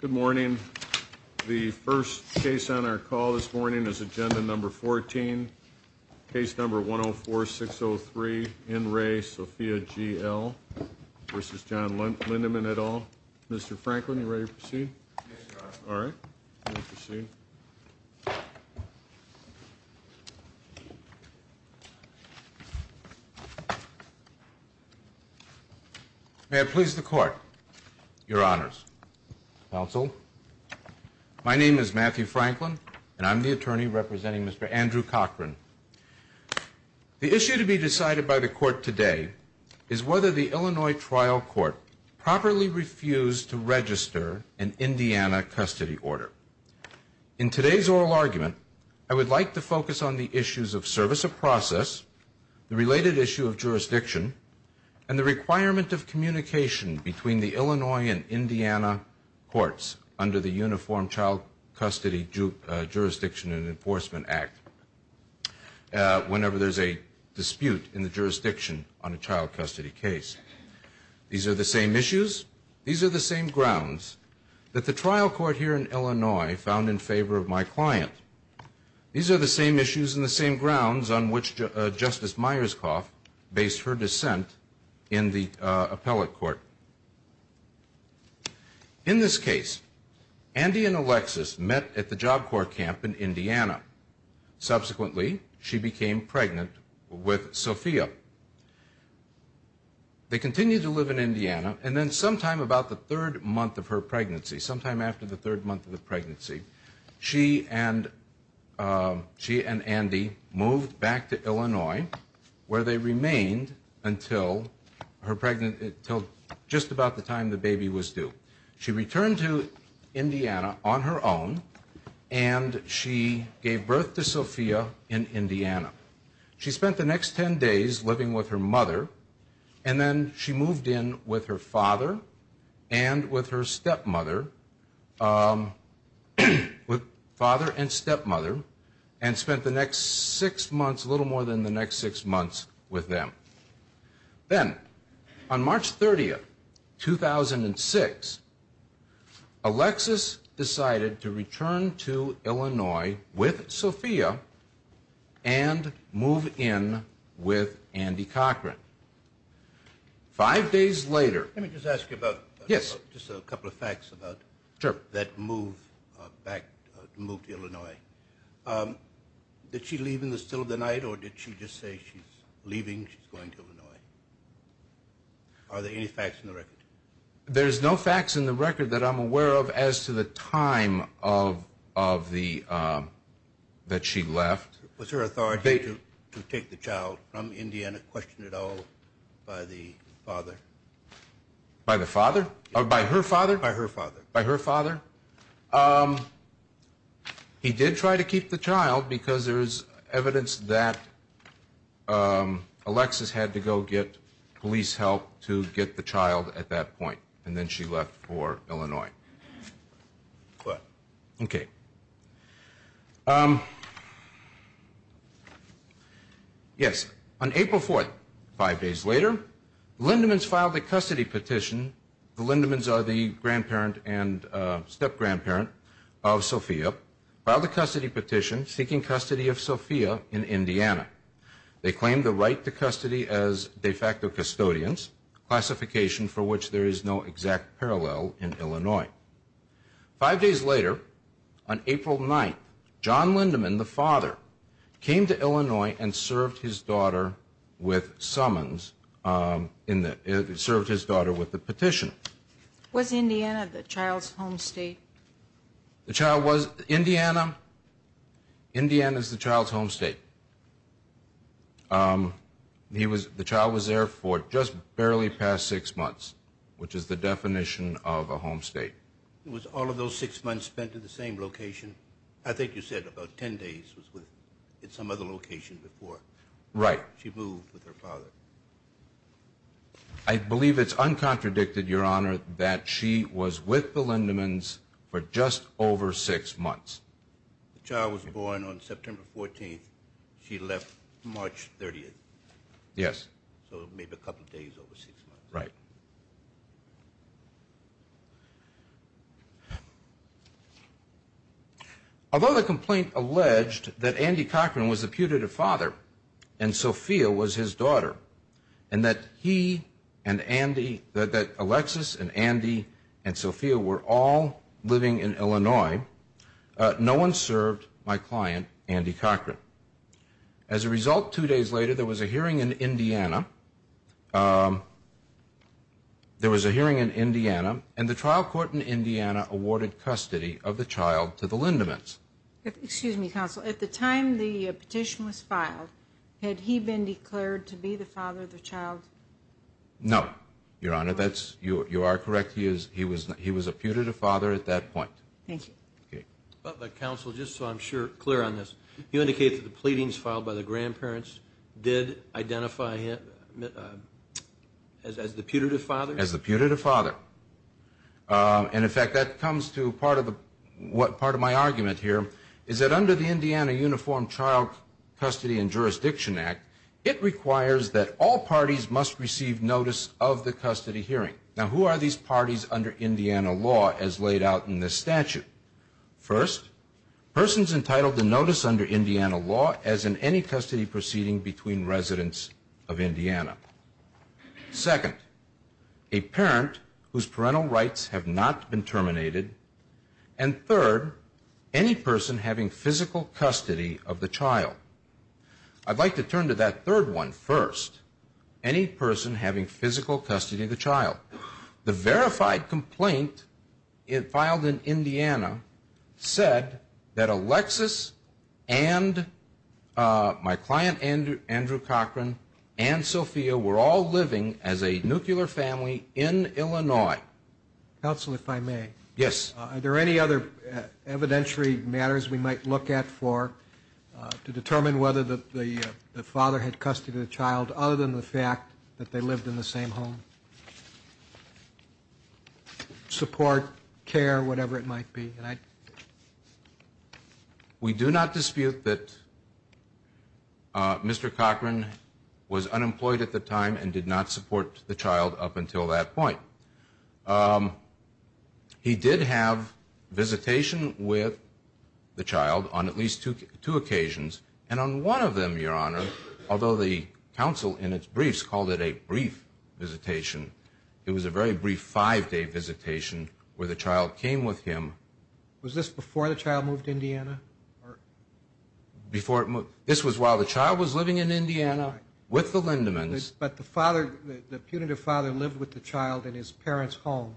Good morning. The first case on our call this morning is agenda number 14 case number 1 0 4 6 0 3 in race Sophia G.L. This is John Lindeman et al. Mr. Franklin, are you ready to proceed? May it please the court, your honors, counsel, my name is Matthew Franklin and I'm the attorney representing Mr. Andrew Cochran. The issue to be decided by the court today is whether the Illinois trial court properly refused to register an Indiana custody order. In today's oral argument, I would like to focus on the issues of service of process, the related issue of jurisdiction, and the requirement of communication between the Illinois and Indiana courts under the Uniform Child Custody Jurisdiction and Enforcement Act. Whenever there's a dispute in the jurisdiction on a child custody case. These are the same issues, these are the same grounds that the trial court here in Illinois found in favor of my client. These are the same issues and the same grounds on which Justice Myerscough based her dissent in the appellate court. In this case, Andy and Alexis met at the Job Corps camp in Indiana. Subsequently, she became pregnant with Sophia. They continued to live in Indiana and then sometime about the third month of her pregnancy, sometime after the third month of the pregnancy, she and Andy moved back to Illinois where they remained until just about the time the baby was due. She returned to Indiana on her own and she gave birth to Sophia in Indiana. She spent the next ten days living with her mother and then she moved in with her father and with her stepmother, with father and stepmother, and spent the next six months, a little more than the next six months, with them. Then, on March 30th, 2006, Alexis decided to return to Illinois with Sophia and move in with Andy Cochran. Five days later... Let me just ask you about... Yes. Just a couple of facts about... Sure. That move back, move to Illinois. Did she leave in the still of the night or did she just say she's leaving, she's going to Illinois? Are there any facts in the record? There's no facts in the record that I'm aware of as to the time of the... that she left. Was her authority to take the child from Indiana questioned at all by the father? By the father? By her father? By her father. By her father? He did try to keep the child because there's evidence that Alexis had to go get police help to get the child at that point and then she left for Illinois. Okay. Yes. On April 4th, five days later, the Lindemans filed a custody petition. The Lindemans are the grandparent and step-grandparent of Sophia, filed a custody petition seeking custody of Sophia in Indiana. They claim the right to custody as de facto custodians, classification for which there is no exact parallel in Illinois. Five days later, on April 9th, John Lindeman, the father, came to Illinois and served his daughter with summons, served his daughter with a petition. Was Indiana the child's home state? The child was Indiana. Indiana is the child's home state. The child was there for just barely past six months, which is the definition of a home state. Was all of those six months spent at the same location? I think you said about 10 days was with some other location before. Right. She moved with her father. I believe it's uncontradicted, Your Honor, that she was with the Lindemans for just over six months. The child was born on September 14th. She left March 30th. Yes. So maybe a couple days over six months. Right. Although the complaint alleged that Andy Cochran was the putative father and Sophia was his daughter and that he and Andy, that Alexis and Andy and Sophia were all living in Illinois, no one served my client, Andy Cochran. As a result, two days later, there was a hearing in Indiana. There was a hearing in Indiana, and the trial court in Indiana awarded custody of the child to the Lindemans. Excuse me, Counsel. At the time the petition was filed, had he been declared to be the father of the child? No, Your Honor. You are correct. He was a putative father at that point. Thank you. Okay. Counsel, just so I'm clear on this, you indicate that the pleadings filed by the grandparents did identify him as the putative father? As the putative father. And, in fact, that comes to part of my argument here, is that under the Indiana Uniform Child Custody and Jurisdiction Act, it requires that all parties must receive notice of the custody hearing. Now, who are these parties under Indiana law as laid out in this statute? First, persons entitled to notice under Indiana law as in any custody proceeding between residents of Indiana. Second, a parent whose parental rights have not been terminated. And third, any person having physical custody of the child. I'd like to turn to that third one first. Any person having physical custody of the child. The verified complaint filed in Indiana said that Alexis and my client, Andrew Cochran, and Sophia, were all living as a nuclear family in Illinois. Counsel, if I may. Yes. Are there any other evidentiary matters we might look at for to determine whether the father had custody of the child, other than the fact that they lived in the same home? Support, care, whatever it might be. We do not dispute that Mr. Cochran was unemployed at the time and did not support the child up until that point. He did have visitation with the child on at least two occasions. And on one of them, Your Honor, although the counsel in its briefs called it a brief visitation, it was a very brief five-day visitation where the child came with him. Was this before the child moved to Indiana? This was while the child was living in Indiana with the Lindemans. But the punitive father lived with the child in his parents' home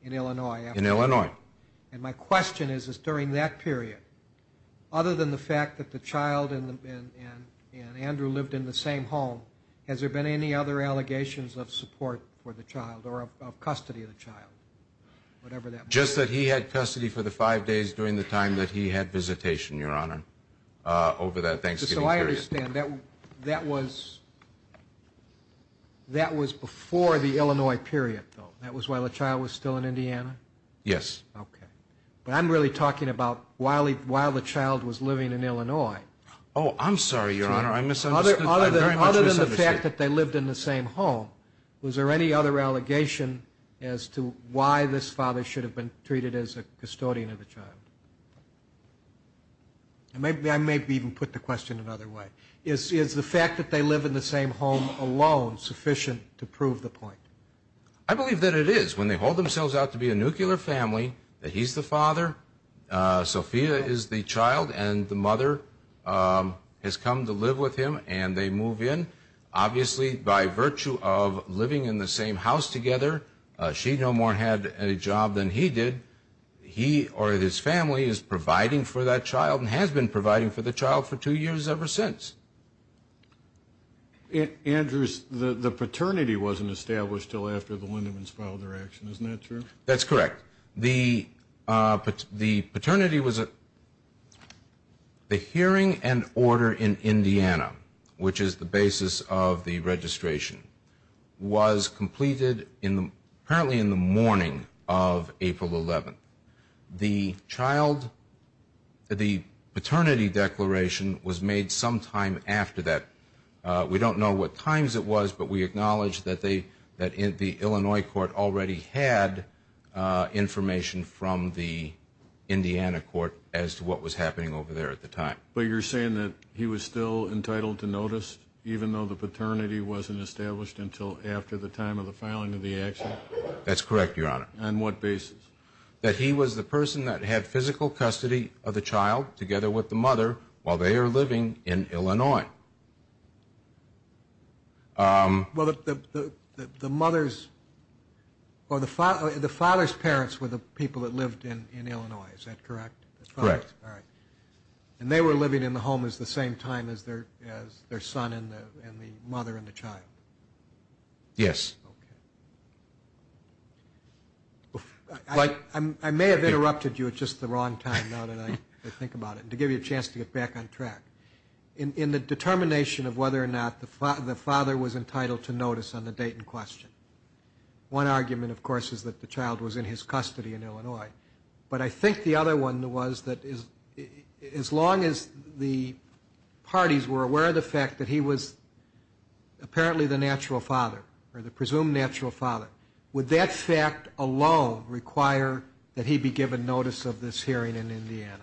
in Illinois. In Illinois. And my question is, is during that period, other than the fact that the child and Andrew lived in the same home, has there been any other allegations of support for the child or of custody of the child, whatever that might be? Just that he had custody for the five days during the time that he had visitation, Your Honor, over that Thanksgiving period. So I understand that was before the Illinois period, though. That was while the child was still in Indiana? Yes. Okay. But I'm really talking about while the child was living in Illinois. Oh, I'm sorry, Your Honor, I misunderstood. Other than the fact that they lived in the same home, was there any other allegation as to why this father should have been treated as a custodian of the child? I may even put the question another way. Is the fact that they live in the same home alone sufficient to prove the point? I believe that it is. When they hold themselves out to be a nuclear family, that he's the father, Sophia is the child, and the mother has come to live with him, and they move in. Obviously, by virtue of living in the same house together, she no more had a job than he did. He or his family is providing for that child and has been providing for the child for two years ever since. Andrews, the paternity wasn't established until after the Lindemans filed their action. Isn't that true? That's correct. The hearing and order in Indiana, which is the basis of the registration, was completed apparently in the morning of April 11th. The paternity declaration was made sometime after that. We don't know what times it was, but we acknowledge that the Illinois court already had information from the Indiana court as to what was happening over there at the time. But you're saying that he was still entitled to notice, even though the paternity wasn't established until after the time of the filing of the action? That's correct, Your Honor. On what basis? That he was the person that had physical custody of the child together with the mother while they are living in Illinois. Well, the mother's or the father's parents were the people that lived in Illinois. Is that correct? Correct. All right. And they were living in the home at the same time as their son and the mother and the child? Yes. Okay. I may have interrupted you at just the wrong time now that I think about it, to give you a chance to get back on track. In the determination of whether or not the father was entitled to notice on the date in question, one argument, of course, is that the child was in his custody in Illinois. But I think the other one was that as long as the parties were aware of the fact that he was apparently the natural father or the presumed natural father, would that fact alone require that he be given notice of this hearing in Indiana?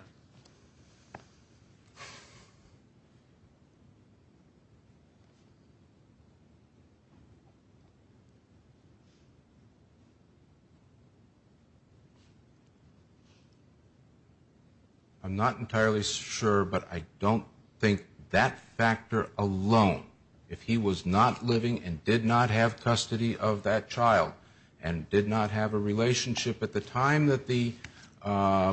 I'm not entirely sure, but I don't think that factor alone, if he was not living and did not have custody of that child and did not have a relationship at the time that the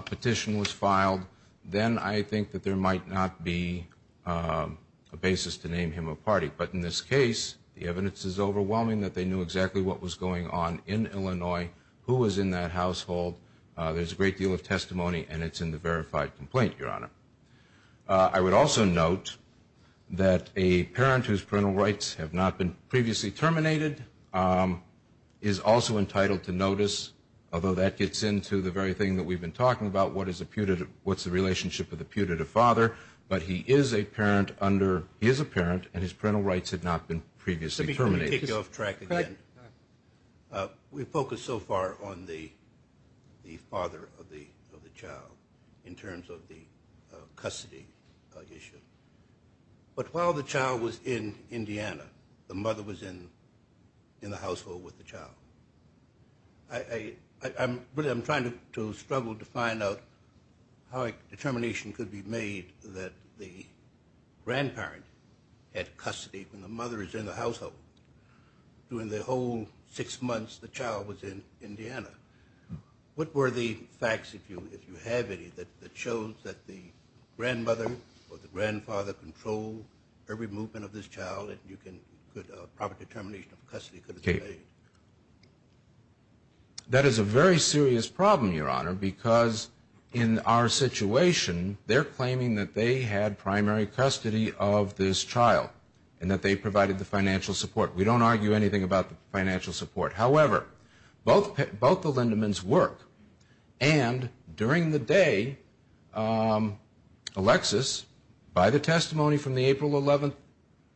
petition was filed, then I think that there might not be a basis to name him a party. But in this case, the evidence is overwhelming that they knew exactly what was going on in Illinois, who was in that household. There's a great deal of testimony, and it's in the verified complaint, Your Honor. I would also note that a parent whose parental rights have not been previously terminated is also entitled to notice, although that gets into the very thing that we've been talking about, what's the relationship of the putative father. But he is a parent, and his parental rights had not been previously terminated. Let me kick you off track again. We've focused so far on the father of the child in terms of the custody issue. But while the child was in Indiana, the mother was in the household with the child. I'm trying to struggle to find out how a determination could be made that the grandparent had custody when the mother is in the household. During the whole six months, the child was in Indiana. What were the facts, if you have any, that shows that the grandmother or the grandfather controlled every movement of this child, and you can put a proper determination of custody? That is a very serious problem, Your Honor, because in our situation, they're claiming that they had primary custody of this child and that they provided the financial support. We don't argue anything about the financial support. However, both the Lindemans work, and during the day, Alexis, by the testimony from the April 11th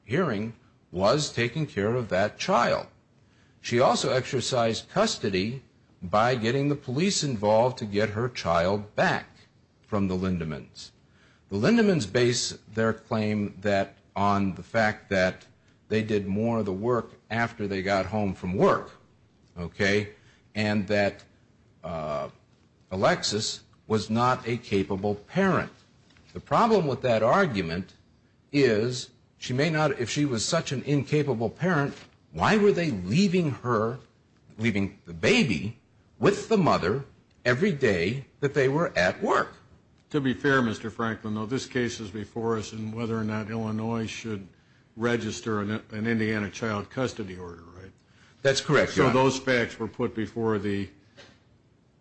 hearing, was taking care of that child. She also exercised custody by getting the police involved to get her child back from the Lindemans. The Lindemans base their claim on the fact that they did more of the work after they got home from work, okay, and that Alexis was not a capable parent. The problem with that argument is she may not, if she was such an incapable parent, why were they leaving her, leaving the baby with the mother every day that they were at work? To be fair, Mr. Franklin, though, this case is before us, and whether or not Illinois should register an Indiana child custody order, right? That's correct, Your Honor. So those facts were put before the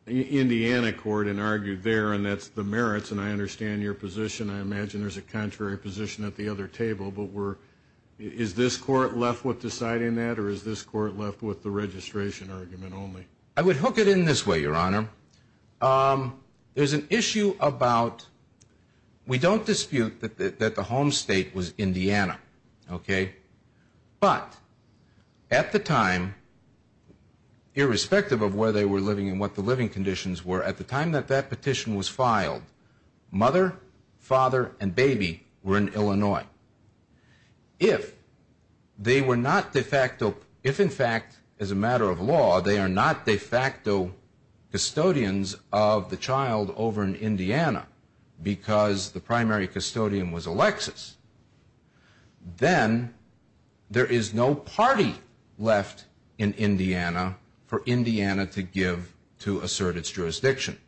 Indiana court and argued there, and that's the merits, and I understand your position. I imagine there's a contrary position at the other table, but is this court left with deciding that, or is this court left with the registration argument only? I would hook it in this way, Your Honor. There's an issue about, we don't dispute that the home state was Indiana, okay, but at the time, irrespective of where they were living and what the living conditions were, at the time that that petition was filed, mother, father, and baby were in Illinois. If they were not de facto, if, in fact, as a matter of law, they are not de facto custodians of the child over in Indiana because the primary custodian was Alexis, then there is no party left in Indiana for Indiana to give to assert its jurisdiction.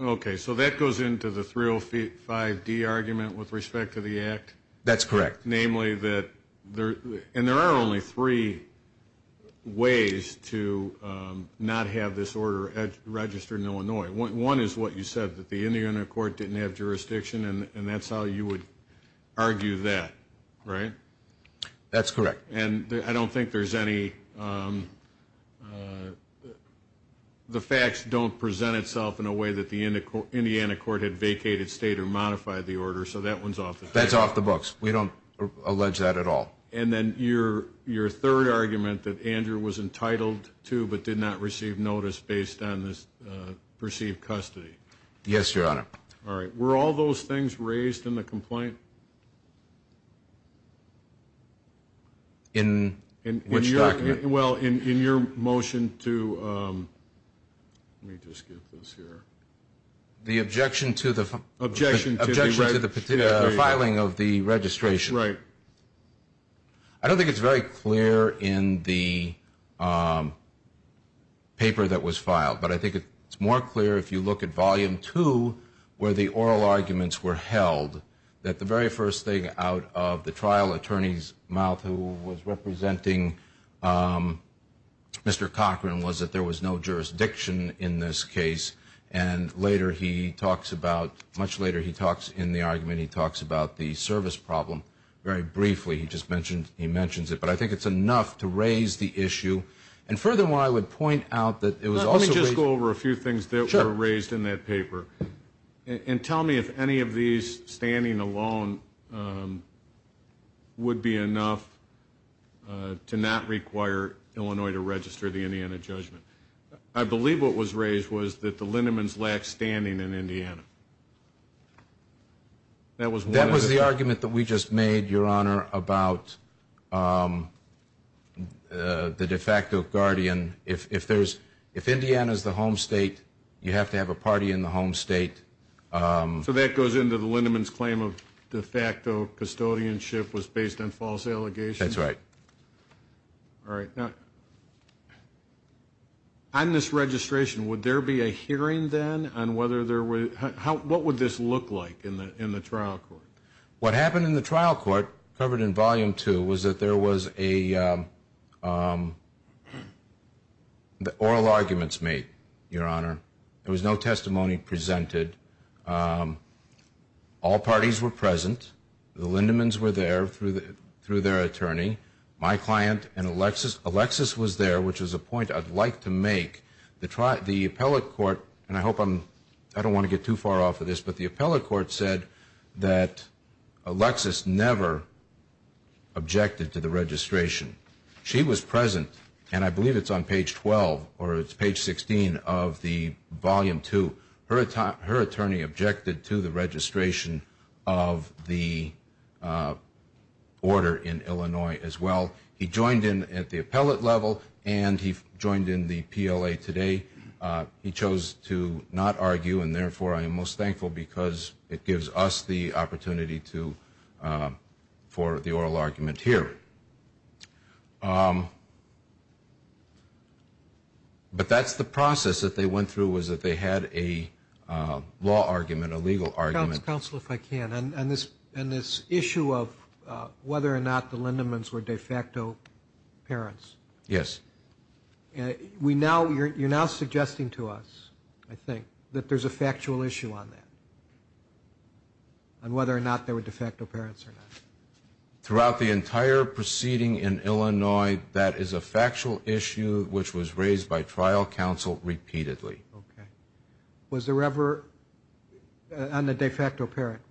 Okay, so that goes into the 305D argument with respect to the act? That's correct. Namely that, and there are only three ways to not have this order registered in Illinois. One is what you said, that the Indiana court didn't have jurisdiction, and that's how you would argue that, right? That's correct. And I don't think there's any, the facts don't present itself in a way that the Indiana court had vacated state or modified the order, so that one's off the books. That's off the books. We don't allege that at all. And then your third argument, that Andrew was entitled to but did not receive notice based on this perceived custody. Yes, Your Honor. All right, were all those things raised in the complaint? In which document? Well, in your motion to, let me just get this here. The objection to the filing of the registration. Right. I don't think it's very clear in the paper that was filed, but I think it's more clear if you look at volume two where the oral arguments were held, that the very first thing out of the trial attorney's mouth who was representing Mr. Cochran was that there was no jurisdiction in this case, and later he talks about, much later he talks in the argument, he talks about the service problem very briefly. He just mentions it, but I think it's enough to raise the issue. And furthermore, I would point out that it was also raised. Let me just go over a few things that were raised in that paper. And tell me if any of these, standing alone, would be enough to not require Illinois to register the Indiana judgment. I believe what was raised was that the Lindemans lacked standing in Indiana. That was the argument that we just made, Your Honor, about the de facto guardian. If Indiana is the home state, you have to have a party in the home state. So that goes into the Lindemans' claim of de facto custodianship was based on false allegations? That's right. All right. Now, on this registration, would there be a hearing then on whether there were, what would this look like in the trial court? What happened in the trial court, covered in Volume 2, was that there was a, oral arguments made, Your Honor. There was no testimony presented. All parties were present. The Lindemans were there through their attorney. My client and Alexis. Alexis was there, which was a point I'd like to make. The appellate court, and I hope I'm, I don't want to get too far off of this, but the appellate court said that Alexis never objected to the registration. She was present, and I believe it's on page 12, or it's page 16 of the Volume 2. Her attorney objected to the registration of the order in Illinois as well. He joined in at the appellate level, and he joined in the PLA today. He chose to not argue, and therefore I am most thankful because it gives us the opportunity to, for the oral argument here. But that's the process that they went through, was that they had a law argument, a legal argument. Counsel, if I can, on this issue of whether or not the Lindemans were de facto parents. Yes. You're now suggesting to us, I think, that there's a factual issue on that, on whether or not they were de facto parents or not. Throughout the entire proceeding in Illinois, that is a factual issue which was raised by trial counsel repeatedly. Okay. Was there ever, on the de facto parent,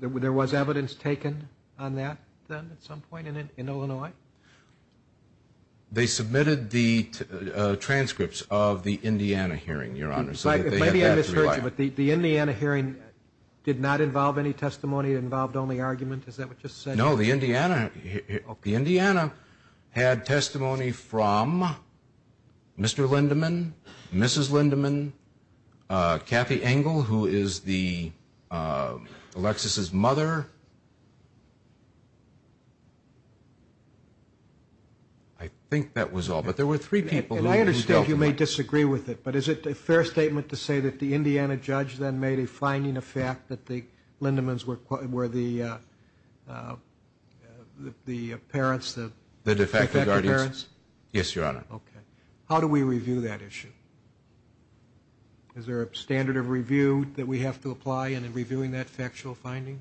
there was evidence taken on that then at some point in Illinois? They submitted the transcripts of the Indiana hearing, Your Honor, so that they had that to rely on. Maybe I misheard you, but the Indiana hearing did not involve any testimony, involved only argument, is that what you said? No, the Indiana had testimony from Mr. Lindeman, Mrs. Lindeman, Kathy Engel, who is Alexis's mother. I think that was all, but there were three people who dealt with it. And I understand you may disagree with it, but is it a fair statement to say that the Indiana judge then made a finding of fact that the Lindemans were the parents, the de facto parents? Yes, Your Honor. Okay. How do we review that issue? Is there a standard of review that we have to apply in reviewing that factual finding?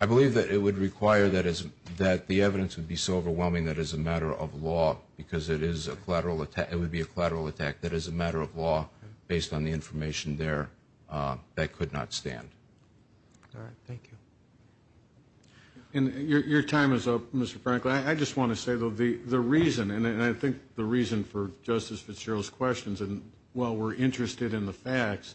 I believe that it would require that the evidence would be so overwhelming that it's a matter of law because it would be a collateral attack that is a matter of law based on the information there that could not stand. All right. Thank you. And your time is up, Mr. Frankel. I just want to say, though, the reason, and I think the reason for Justice Fitzgerald's questions, and while we're interested in the facts,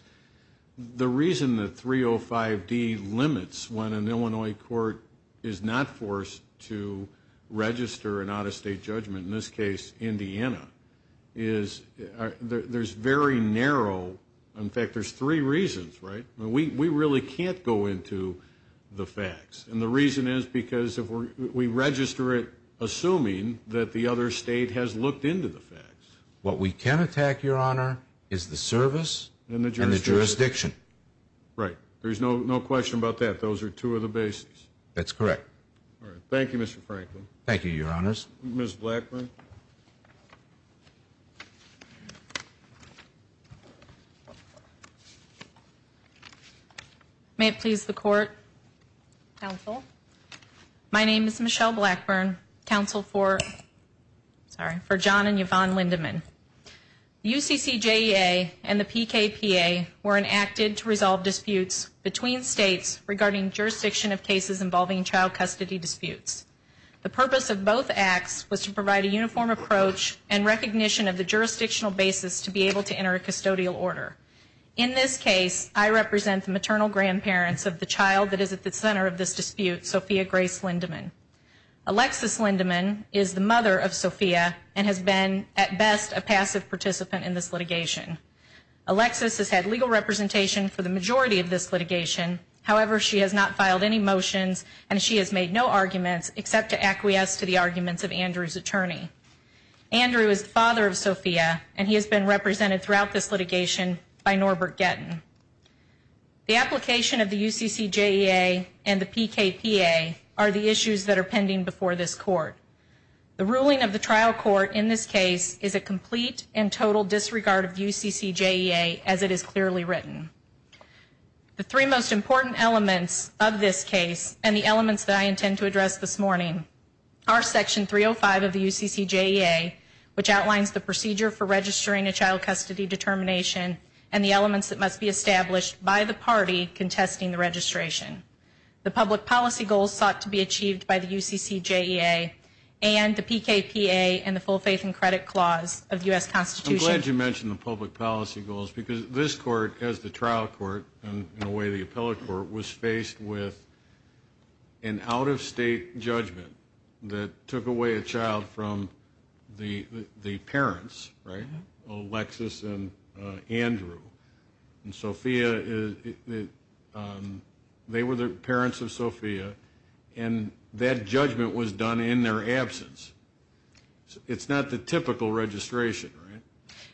the reason that 305D limits when an Illinois court is not forced to register an out-of-state judgment, in this case Indiana, is there's very narrow. In fact, there's three reasons, right? We really can't go into the facts. And the reason is because if we register it assuming that the other state has looked into the facts. What we can attack, Your Honor, is the service and the jurisdiction. Right. There's no question about that. Those are two of the bases. That's correct. All right. Thank you, Mr. Frankel. Thank you, Your Honors. Ms. Blackburn. May it please the Court. Counsel. My name is Michelle Blackburn, counsel for John and Yvonne Lindemann. The UCCJEA and the PKPA were enacted to resolve disputes between states regarding jurisdiction of cases involving child custody disputes. The purpose of both acts was to provide a uniform approach and recognition of the jurisdictional basis to be able to enter a custodial order. In this case, I represent the maternal grandparents of the child that is at the center of this dispute, Sophia Grace Lindemann. Alexis Lindemann is the mother of Sophia and has been, at best, a passive participant in this litigation. Alexis has had legal representation for the majority of this litigation. However, she has not filed any motions and she has made no arguments except to acquiesce to the arguments of Andrew's attorney. Andrew is the father of Sophia, and he has been represented throughout this litigation by Norbert Gettin. The application of the UCCJEA and the PKPA are the issues that are pending before this Court. The ruling of the trial court in this case is a complete and total disregard of the UCCJEA, as it is clearly written. The three most important elements of this case and the elements that I intend to address this morning are Section 305 of the UCCJEA, which outlines the procedure for registering a child custody determination and the elements that must be established by the party contesting the registration. The public policy goals sought to be achieved by the UCCJEA and the PKPA and the full faith and credit clause of the U.S. Constitution. I'm glad you mentioned the public policy goals because this Court, as the trial court, and in a way the appellate court, was faced with an out-of-state judgment that took away a child from the parents, right, Alexis and Andrew. And Sophia, they were the parents of Sophia, and that judgment was done in their absence. It's not the typical registration, right?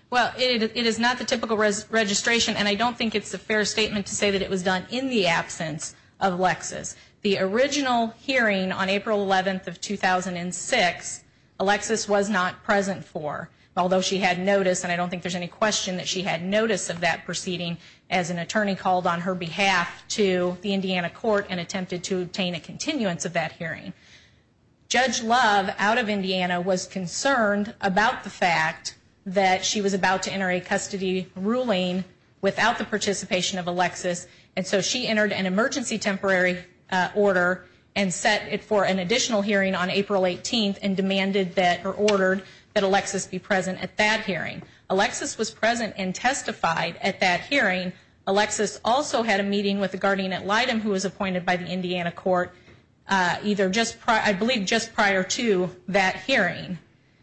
Well, it is not the typical registration, and I don't think it's a fair statement to say that it was done in the absence of Alexis. The original hearing on April 11th of 2006, Alexis was not present for, although she had notice, and I don't think there's any question that she had notice of that proceeding, as an attorney called on her behalf to the Indiana court and attempted to obtain a continuance of that hearing. Judge Love, out of Indiana, was concerned about the fact that she was about to enter a custody ruling without the participation of Alexis, and so she entered an emergency temporary order and set it for an additional hearing on April 18th and demanded that, or ordered, that Alexis be present at that hearing. Alexis was present and testified at that hearing. Alexis also had a meeting with the guardian at Lytton, who was appointed by the Indiana court, either just prior, I believe just prior to that hearing.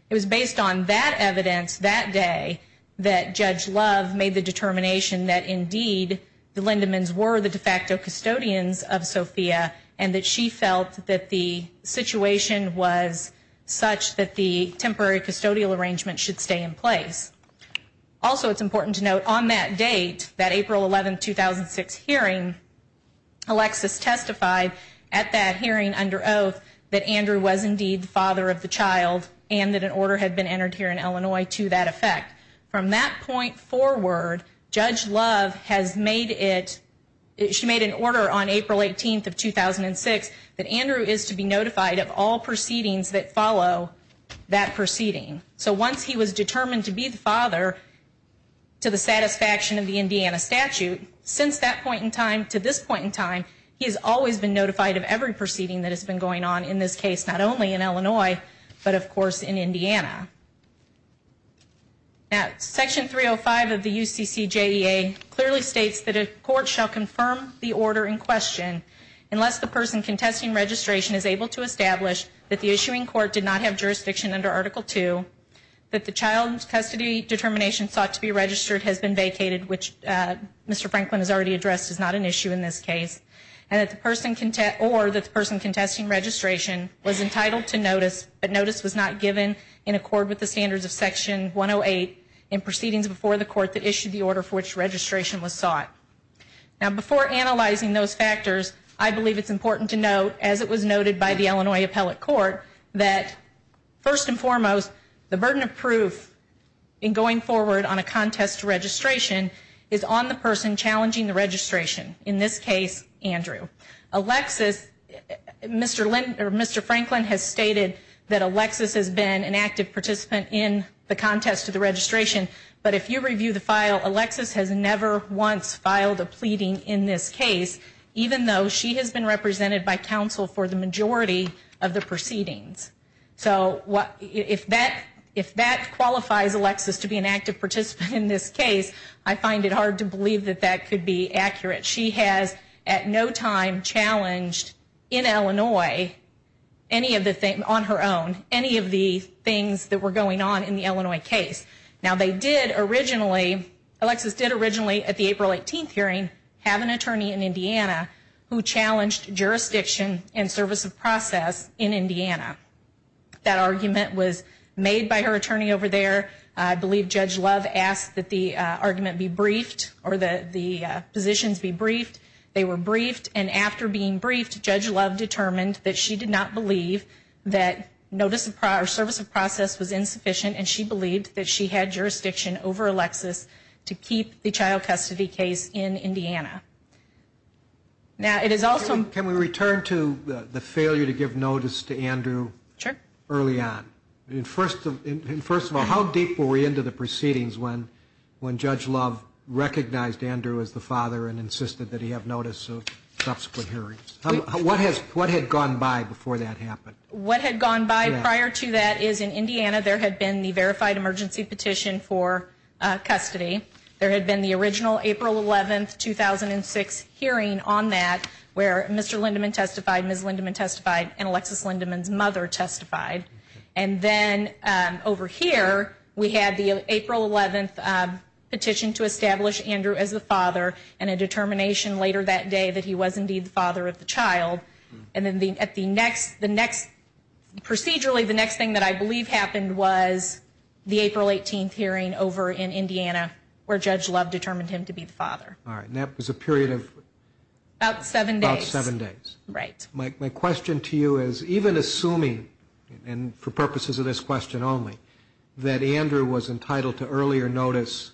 It was based on that evidence that day that Judge Love made the determination that, indeed, the Lindemans were the de facto custodians of Sophia and that she felt that the situation was such that the temporary custodial arrangement should stay in place. Also, it's important to note, on that date, that April 11th, 2006 hearing, Alexis testified at that hearing under oath that Andrew was indeed the father of the child and that an order had been entered here in Illinois to that effect. From that point forward, Judge Love has made it, she made an order on April 18th of 2006 that Andrew is to be notified of all proceedings that follow that proceeding. So once he was determined to be the father, to the satisfaction of the Indiana statute, since that point in time to this point in time, he has always been notified of every proceeding that has been going on in this case, not only in Illinois, but, of course, in Indiana. Section 305 of the UCCJEA clearly states that a court shall confirm the order in question unless the person contesting registration is able to establish that the issuing court did not have jurisdiction under Article II, that the child custody determination sought to be registered has been vacated, which Mr. Franklin has already addressed is not an issue in this case, or that the person contesting registration was entitled to notice, but notice was not given in accord with the standards of Section 108 in proceedings before the court that issued the order for which registration was sought. Now, before analyzing those factors, I believe it's important to note, as it was noted by the Illinois Appellate Court, that, first and foremost, the burden of proof in going forward on a contest to registration is on the person challenging the registration, in this case, Andrew. Alexis, Mr. Franklin has stated that Alexis has been an active participant in the contest to the registration, but if you review the file, Alexis has never once filed a pleading in this case, even though she has been represented by counsel for the majority of the proceedings. So, if that qualifies Alexis to be an active participant in this case, I find it hard to believe that that could be accurate. She has, at no time, challenged in Illinois, on her own, any of the things that were going on in the Illinois case. Now, they did originally, Alexis did originally, at the April 18th hearing, have an attorney in Indiana who challenged jurisdiction and service of process in Indiana. That argument was made by her attorney over there. I believe Judge Love asked that the argument be briefed, or that the positions be briefed. They were briefed, and after being briefed, Judge Love determined that she did not believe that service of process was insufficient, and she believed that she had jurisdiction over Alexis to keep the child custody case in Indiana. Now, it is also- Can we return to the failure to give notice to Andrew early on? First of all, how deep were we into the proceedings when Judge Love recognized Andrew as the father and insisted that he have notice of subsequent hearings? What had gone by before that happened? What had gone by prior to that is, in Indiana, there had been the verified emergency petition for custody. There had been the original April 11th, 2006 hearing on that, where Mr. Lindeman testified, Ms. Lindeman testified, and Alexis Lindeman's mother testified. And then, over here, we had the April 11th petition to establish Andrew as the father, and a determination later that day that he was indeed the father of the child. And then, procedurally, the next thing that I believe happened was the April 18th hearing over in Indiana, where Judge Love determined him to be the father. All right, and that was a period of- About seven days. About seven days. Right. My question to you is, even assuming, and for purposes of this question only, that Andrew was entitled to earlier notice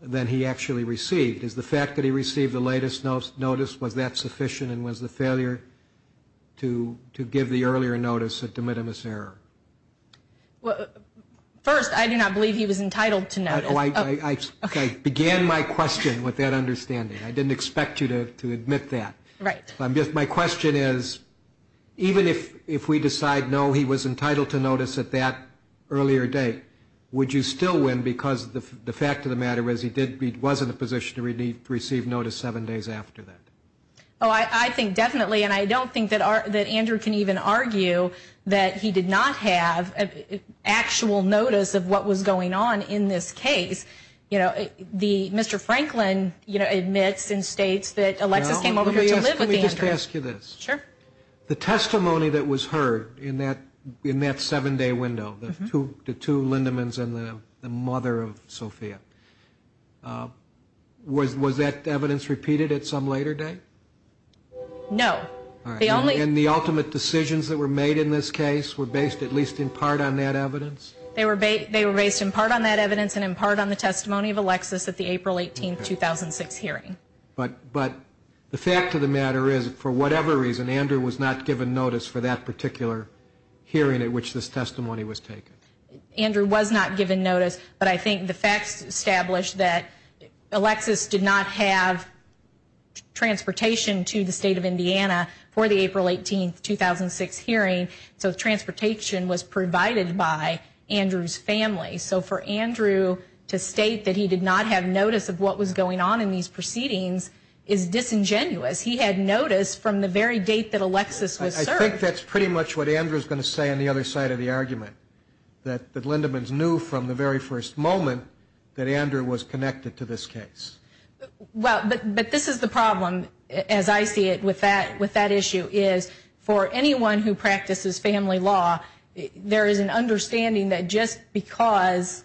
than he actually received. Is the fact that he received the latest notice, was that sufficient, and was the failure to give the earlier notice a de minimis error? First, I do not believe he was entitled to notice. I began my question with that understanding. I didn't expect you to admit that. Right. My question is, even if we decide, no, he was entitled to notice at that earlier date, would you still win because the fact of the matter is he was in a position to receive notice seven days after that? Oh, I think definitely, and I don't think that Andrew can even argue that he did not have actual notice of what was going on in this case. Mr. Franklin admits and states that Alexis came over to live with Andrew. Can we just ask you this? Sure. The testimony that was heard in that seven-day window, the two Lindemans and the mother of Sophia, was that evidence repeated at some later date? No. And the ultimate decisions that were made in this case were based at least in part on that evidence? They were based in part on that evidence and in part on the testimony of Alexis at the April 18, 2006 hearing. But the fact of the matter is, for whatever reason, Andrew was not given notice for that particular hearing at which this testimony was taken? Andrew was not given notice, but I think the facts establish that Alexis did not have transportation to the state of Indiana for the April 18, 2006 hearing. So transportation was provided by Andrew's family. So for Andrew to state that he did not have notice of what was going on in these proceedings is disingenuous. He had notice from the very date that Alexis was served. I think that's pretty much what Andrew's going to say on the other side of the argument, that the Lindemans knew from the very first moment that Andrew was connected to this case. But this is the problem, as I see it, with that issue, is for anyone who practices family law, there is an understanding that just because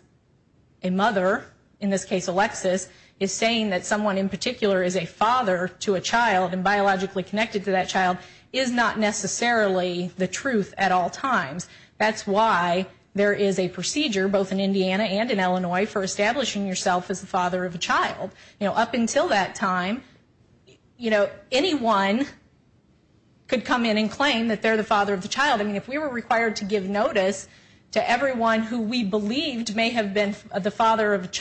a mother, in this case Alexis, is saying that someone in particular is a father to a child and biologically connected to that child is not necessarily the truth at all times. That's why there is a procedure, both in Indiana and in Illinois, for establishing yourself as the father of a child. Up until that time, anyone could come in and claim that they're the father of the child. If we were required to give notice to everyone who we believed may have been the father of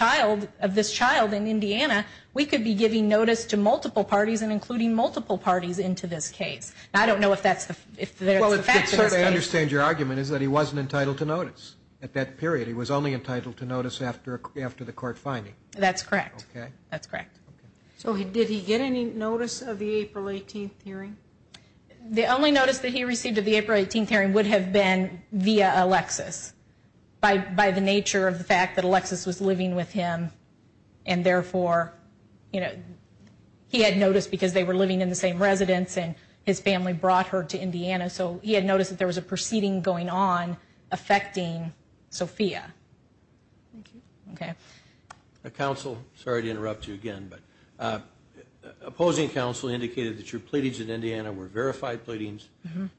this child in Indiana, we could be giving notice to multiple parties and including multiple parties into this case. I certainly understand your argument is that he wasn't entitled to notice at that period. He was only entitled to notice after the court finding. That's correct. Okay. That's correct. So did he get any notice of the April 18th hearing? The only notice that he received of the April 18th hearing would have been via Alexis, by the nature of the fact that Alexis was living with him, and therefore he had notice because they were living in the same residence and his family brought her to Indiana. So he had notice that there was a proceeding going on affecting Sophia. Thank you. Okay. Counsel, sorry to interrupt you again, but opposing counsel indicated that your pleadings in Indiana were verified pleadings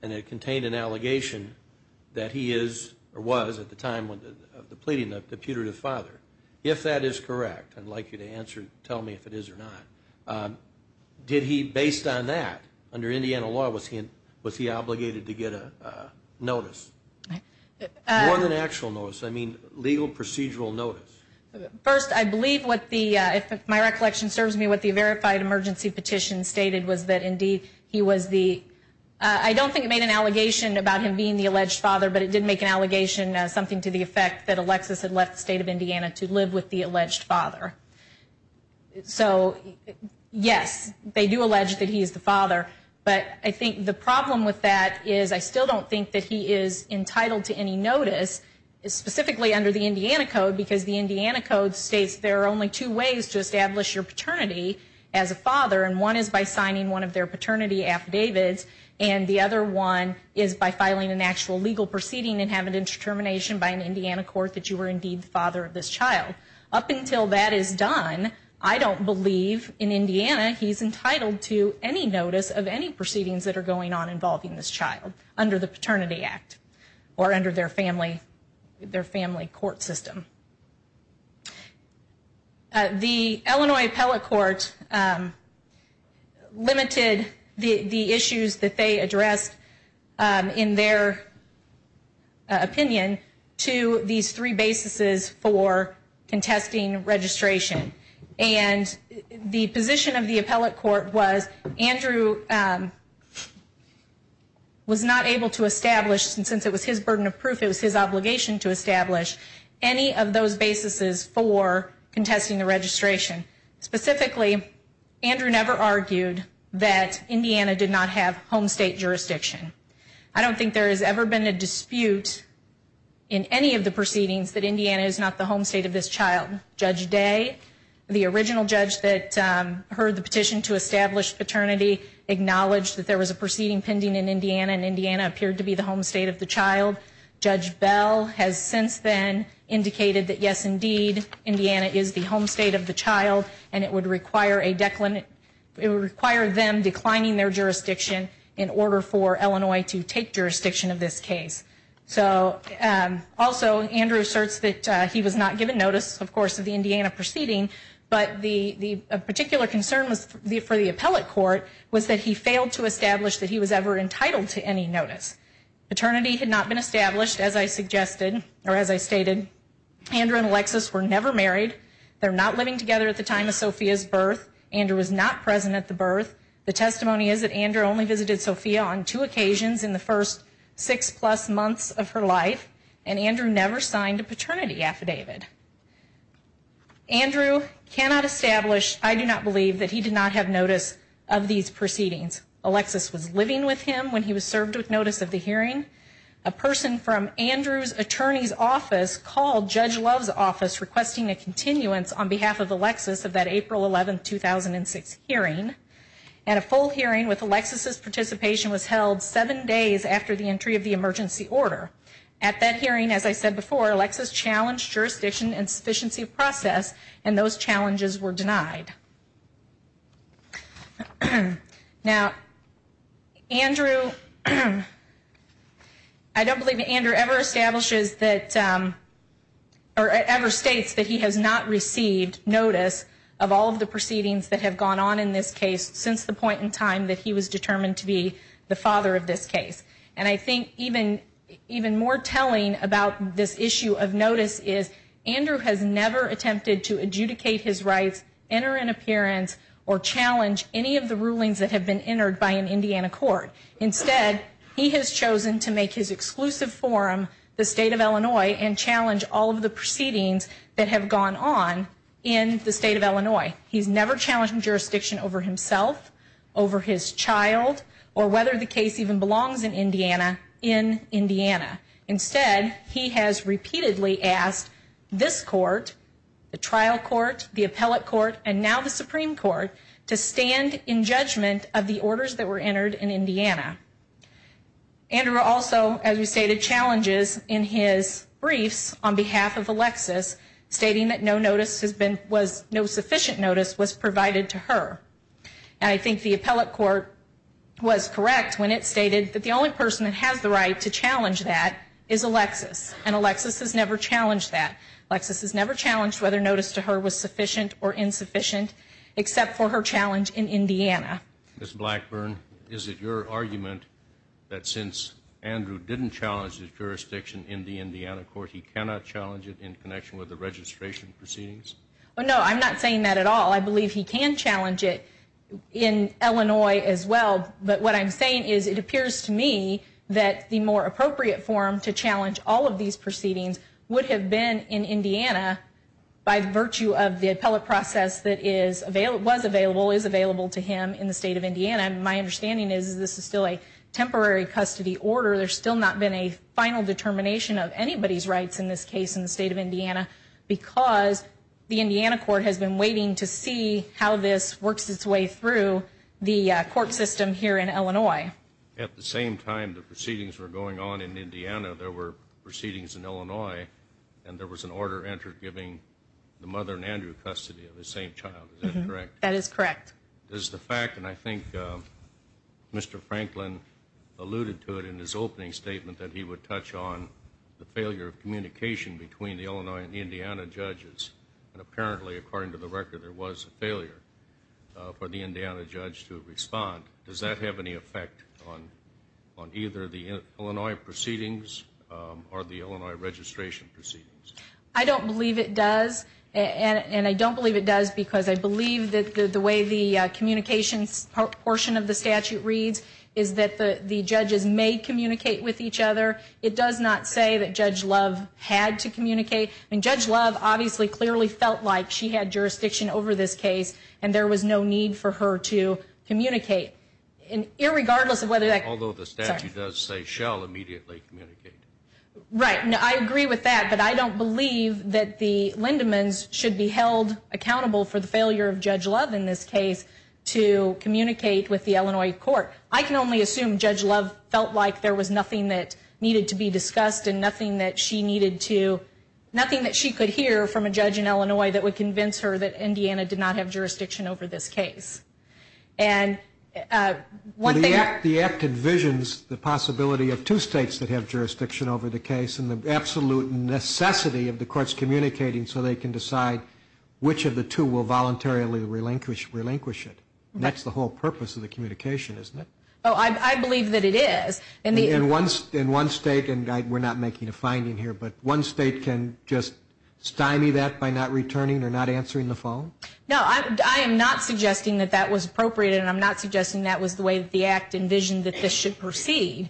and it contained an allegation that he is or was at the time of the pleading the putative father. If that is correct, I'd like you to tell me if it is or not. Did he, based on that, under Indiana law, was he obligated to get a notice? More than an actual notice. I mean legal procedural notice. First, I believe what the, if my recollection serves me, what the verified emergency petition stated was that indeed he was the, I don't think it made an allegation about him being the alleged father, but it did make an allegation, something to the effect, that Alexis had left the state of Indiana to live with the alleged father. So, yes, they do allege that he is the father, but I think the problem with that is I still don't think that he is entitled to any notice, specifically under the Indiana Code, because the Indiana Code states there are only two ways to establish your paternity as a father, and one is by signing one of their paternity affidavits, and the other one is by filing an actual legal proceeding and having it determination by an Indiana court that you were indeed the father of this child. Up until that is done, I don't believe in Indiana he's entitled to any notice of any proceedings that are going on involving this child under the Paternity Act or under their family court system. The Illinois Appellate Court limited the issues that they addressed in their opinion to these three basis for contesting registration, and the position of the Appellate Court was Andrew was not able to establish, since it was his burden of proof, it was his obligation to establish, any of those basis for contesting the registration. Specifically, Andrew never argued that Indiana did not have home state jurisdiction. I don't think there has ever been a dispute in any of the proceedings that Indiana is not the home state of this child. Judge Day, the original judge that heard the petition to establish paternity, acknowledged that there was a proceeding pending in Indiana, and Indiana appeared to be the home state of the child. Judge Bell has since then indicated that, yes, indeed, Indiana is the home state of the child, and it would require them declining their jurisdiction in order for Illinois to take jurisdiction of this case. Also, Andrew asserts that he was not given notice, of course, of the Indiana proceeding, but a particular concern for the Appellate Court was that he failed to establish that he was ever entitled to any notice. Paternity had not been established, as I stated. Andrew and Alexis were never married. They're not living together at the time of Sophia's birth. Andrew was not present at the birth. The testimony is that Andrew only visited Sophia on two occasions in the first six-plus months of her life, and Andrew never signed a paternity affidavit. Andrew cannot establish, I do not believe, that he did not have notice of these proceedings. Alexis was living with him when he was served with notice of the hearing. A person from Andrew's attorney's office called Judge Love's office requesting a continuance on behalf of Alexis of that April 11, 2006, hearing. And a full hearing with Alexis' participation was held seven days after the entry of the emergency order. At that hearing, as I said before, Alexis challenged jurisdiction and sufficiency of process, and those challenges were denied. Now, Andrew, I don't believe that Andrew ever establishes that, or ever states that he has not received notice of all of the proceedings that have gone on in this case since the point in time that he was determined to be the father of this case. And I think even more telling about this issue of notice is Andrew has never attempted to adjudicate his rights enter an appearance, or challenge any of the rulings that have been entered by an Indiana court. Instead, he has chosen to make his exclusive forum the state of Illinois and challenge all of the proceedings that have gone on in the state of Illinois. He's never challenged jurisdiction over himself, over his child, or whether the case even belongs in Indiana, in Indiana. Instead, he has repeatedly asked this court, the trial court, the appellate court, and now the Supreme Court, to stand in judgment of the orders that were entered in Indiana. Andrew also, as we stated, challenges in his briefs on behalf of Alexis, stating that no notice has been, was, no sufficient notice was provided to her. And I think the appellate court was correct when it stated that the only person that has the right to challenge that is Alexis. And Alexis has never challenged that. Alexis has never challenged whether notice to her was sufficient or insufficient, except for her challenge in Indiana. Ms. Blackburn, is it your argument that since Andrew didn't challenge his jurisdiction in the Indiana court, he cannot challenge it in connection with the registration proceedings? No, I'm not saying that at all. I believe he can challenge it in Illinois as well. But what I'm saying is it appears to me that the more appropriate form to challenge all of these proceedings would have been in Indiana by virtue of the appellate process that was available, is available to him in the state of Indiana. My understanding is this is still a temporary custody order. There's still not been a final determination of anybody's rights in this case in the state of Indiana because the Indiana court has been waiting to see how this works its way through the court system here in Illinois. At the same time the proceedings were going on in Indiana, there were proceedings in Illinois, and there was an order entered giving the mother and Andrew custody of the same child. Is that correct? That is correct. Is the fact, and I think Mr. Franklin alluded to it in his opening statement, that he would touch on the failure of communication between the Illinois and the Indiana judges, and apparently, according to the record, there was a failure for the Indiana judge to respond. Does that have any effect on either the Illinois proceedings or the Illinois registration proceedings? I don't believe it does, and I don't believe it does because I believe that the way the communications portion of the statute reads is that the judges may communicate with each other. It does not say that Judge Love had to communicate. Judge Love obviously clearly felt like she had jurisdiction over this case, and there was no need for her to communicate. Irregardless of whether that... Although the statute does say shall immediately communicate. Right. I agree with that, but I don't believe that the Lindemans should be held accountable for the failure of Judge Love in this case to communicate with the Illinois court. I can only assume Judge Love felt like there was nothing that needed to be discussed and nothing that she needed to, nothing that she could hear from a judge in Illinois that would convince her that Indiana did not have jurisdiction over this case. The act envisions the possibility of two states that have jurisdiction over the case and the absolute necessity of the courts communicating so they can decide which of the two will voluntarily relinquish it. That's the whole purpose of the communication, isn't it? I believe that it is. In one state, and we're not making a finding here, but one state can just stymie that by not returning or not answering the phone? No, I am not suggesting that that was appropriate, and I'm not suggesting that was the way that the act envisioned that this should proceed.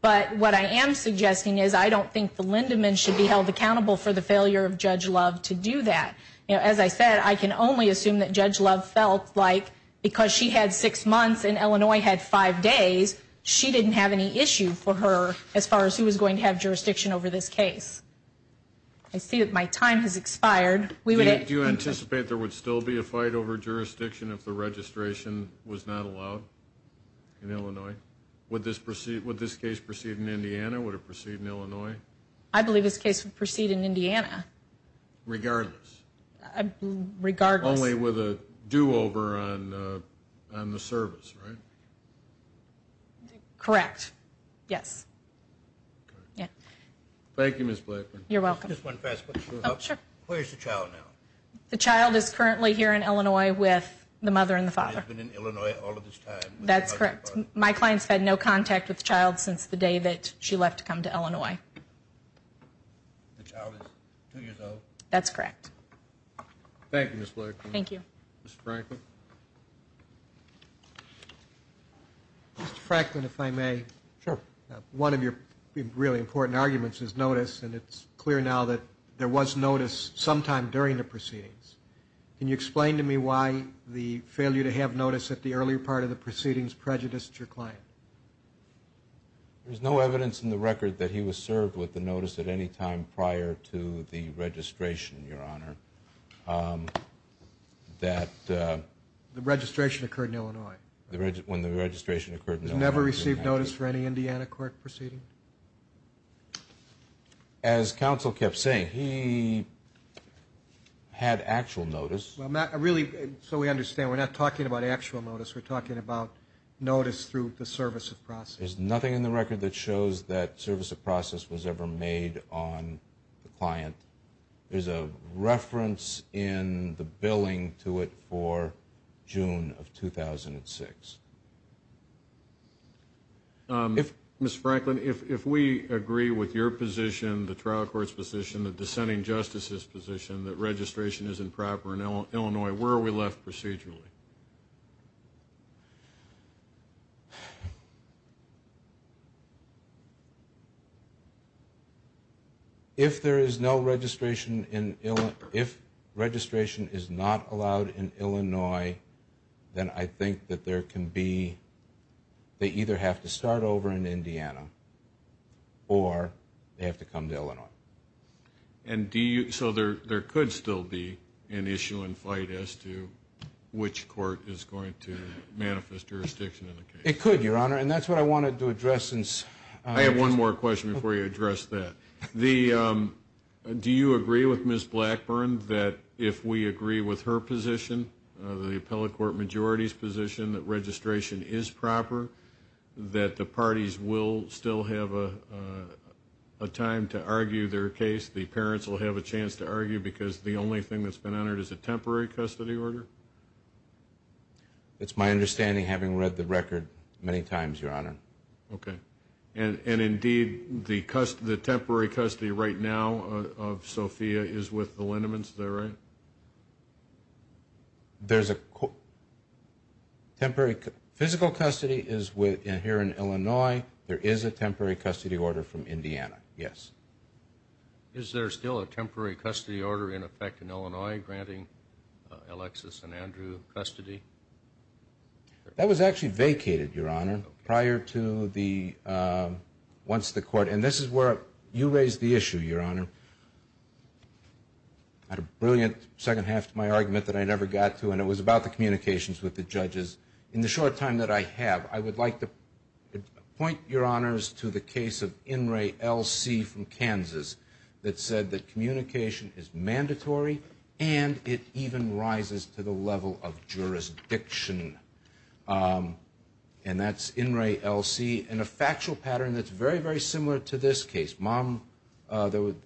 But what I am suggesting is I don't think the Lindemans should be held accountable for the failure of Judge Love to do that. As I said, I can only assume that Judge Love felt like because she had six months and Illinois had five days, she didn't have any issue for her as far as who was going to have jurisdiction over this case. I see that my time has expired. Do you anticipate there would still be a fight over jurisdiction if the registration was not allowed in Illinois? Would this case proceed in Indiana? Would it proceed in Illinois? I believe this case would proceed in Indiana. Regardless? Regardless. Only with a do-over on the service, right? Correct, yes. Thank you, Ms. Blakman. You're welcome. Just one fast question. Sure. Where's the child now? The child is currently here in Illinois with the mother and the father. He's been in Illinois all of this time? That's correct. My client's had no contact with the child since the day that she left to come to Illinois. The child is two years old? That's correct. Thank you, Ms. Blakman. Thank you. Mr. Franklin. Mr. Franklin, if I may. Sure. One of your really important arguments is notice, and it's clear now that there was notice sometime during the proceedings. Can you explain to me why the failure to have notice at the earlier part of the proceedings prejudiced your client? There's no evidence in the record that he was served with the notice at any time prior to the registration, Your Honor. The registration occurred in Illinois. When the registration occurred in Illinois. He's never received notice for any Indiana court proceeding? As counsel kept saying, he had actual notice. Really, so we understand, we're not talking about actual notice. We're talking about notice through the service of process. There's nothing in the record that shows that service of process was ever made on the client. There's a reference in the billing to it for June of 2006. Ms. Franklin, if we agree with your position, the trial court's position, the dissenting justice's position, that registration is improper in Illinois, where are we left procedurally? If there is no registration in Illinois, if registration is not allowed in Illinois, then I think that there can be, they either have to start over in Indiana So there could still be an issue in flight as to which court is going to manifest jurisdiction in the case? It could, Your Honor, and that's what I wanted to address. I have one more question before you address that. Do you agree with Ms. Blackburn that if we agree with her position, the appellate court majority's position that registration is proper, that the parties will still have a time to argue their case, the parents will have a chance to argue because the only thing that's been honored is a temporary custody order? It's my understanding, having read the record many times, Your Honor. Okay. And indeed, the temporary custody right now of Sophia is with the Lindemans, is that right? There's a temporary, physical custody is here in Illinois. There is a temporary custody order from Indiana, yes. Is there still a temporary custody order in effect in Illinois granting Alexis and Andrew custody? That was actually vacated, Your Honor, prior to the, once the court, and this is where you raised the issue, Your Honor. I had a brilliant second half to my argument that I never got to, and it was about the communications with the judges. In the short time that I have, I would like to point, Your Honors, to the case of In re, L.C. from Kansas that said that communication is mandatory and it even rises to the level of jurisdiction, and that's In re, L.C., in a factual pattern that's very, very similar to this case. Mom, the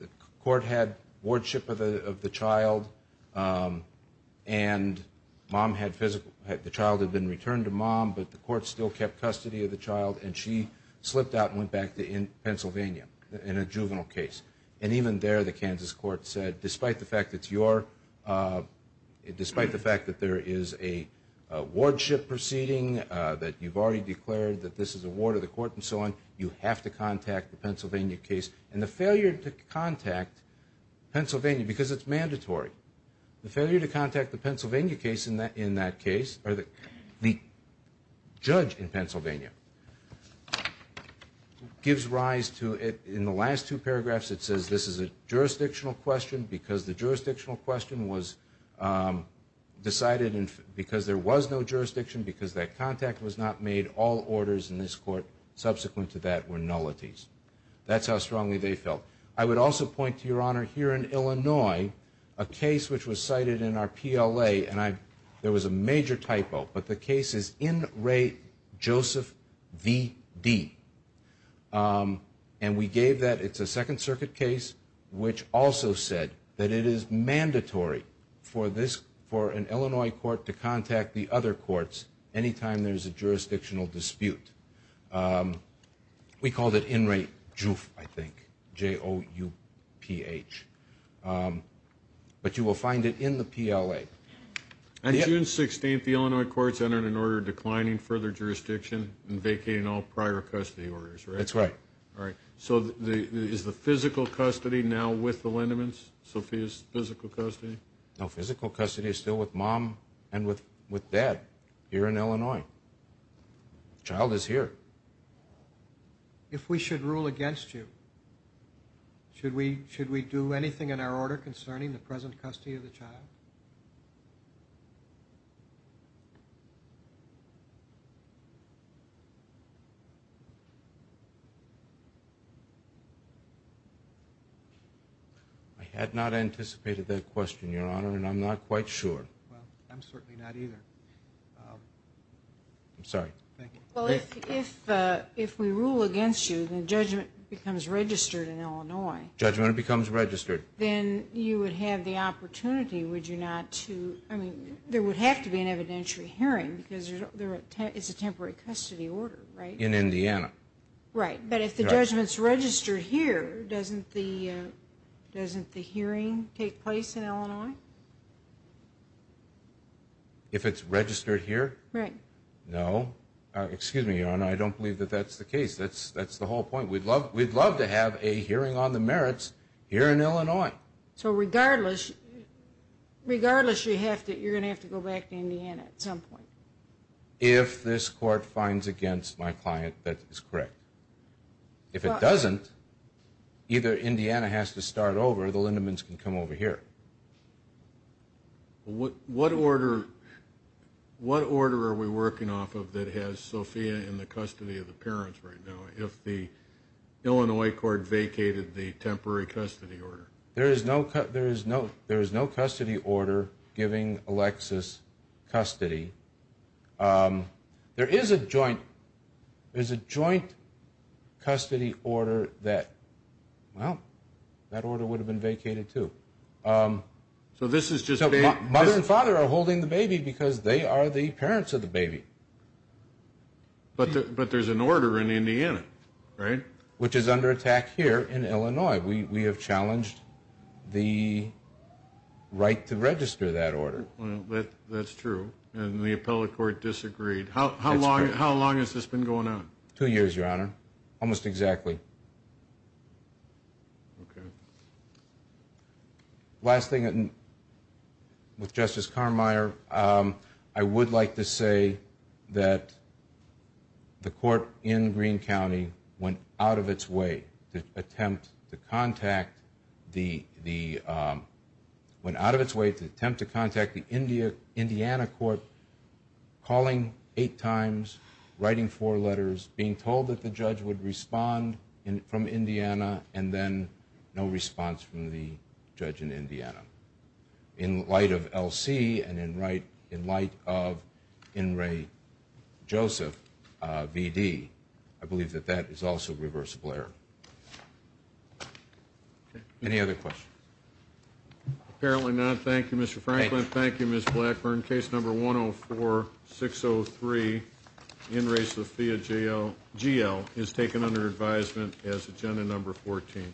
court had wardship of the child, and mom had physical, the child had been returned to mom, but the court still kept custody of the child, and she slipped out and went back to Pennsylvania in a juvenile case. And even there, the Kansas court said, despite the fact that it's your, despite the fact that there is a wardship proceeding, that you've already declared that this is a ward of the court and so on, you have to contact the Pennsylvania case. And the failure to contact Pennsylvania, because it's mandatory, the failure to contact the Pennsylvania case in that case, or the judge in Pennsylvania, gives rise to, in the last two paragraphs, it says this is a jurisdictional question because the jurisdictional question was decided because there was no jurisdiction, because that contact was not made. All orders in this court subsequent to that were nullities. That's how strongly they felt. I would also point to, Your Honor, here in Illinois, a case which was cited in our PLA, and there was a major typo, but the case is In re, Joseph, V, D. And we gave that. It's a Second Circuit case which also said that it is mandatory for an Illinois court to contact the other courts any time there is a jurisdictional dispute. We called it In re, Joof, I think, J-O-U-P-H. But you will find it in the PLA. On June 16th, the Illinois courts entered an order declining further jurisdiction and vacating all prior custody orders, right? That's right. All right. So is the physical custody now with the Lindemans, Sophia's physical custody? No, physical custody is still with Mom and with Dad here in Illinois. The child is here. If we should rule against you, should we do anything in our order concerning the present custody of the child? I had not anticipated that question, Your Honor, and I'm not quite sure. Well, I'm certainly not either. I'm sorry. Thank you. Well, if we rule against you, then judgment becomes registered in Illinois. Judgment becomes registered. Then you would have the opportunity, would you say, I mean, there would have to be an evidentiary hearing because it's a temporary custody order, right? In Indiana. Right. But if the judgment's registered here, doesn't the hearing take place in Illinois? If it's registered here? Right. No. Excuse me, Your Honor, I don't believe that that's the case. That's the whole point. We'd love to have a hearing on the merits here in Illinois. So regardless, you're going to have to go back to Indiana at some point? If this court finds against my client, that is correct. If it doesn't, either Indiana has to start over or the Lindemans can come over here. What order are we working off of that has Sophia in the custody of the parents right now if the Illinois court vacated the temporary custody order? There is no custody order giving Alexis custody. There is a joint custody order that, well, that order would have been vacated, too. So this is just a baby? Mother and father are holding the baby because they are the parents of the baby. But there's an order in Indiana, right? Which is under attack here in Illinois. We have challenged the right to register that order. That's true. And the appellate court disagreed. How long has this been going on? Two years, Your Honor. Almost exactly. Okay. Last thing with Justice Carmeier, I would like to say that the court in Greene County went out of its way to attempt to contact the Indiana court, calling eight times, writing four letters, being told that the judge would respond from Indiana, and then no response from the judge in Indiana. In light of LC and in light of In re Joseph, VD, I believe that that is also reversible error. Any other questions? Apparently not. Thank you, Mr. Franklin. Thank you, Ms. Blackburn. Case number 104-603, In re Sophia, GL, is taken under advisement as agenda number 14.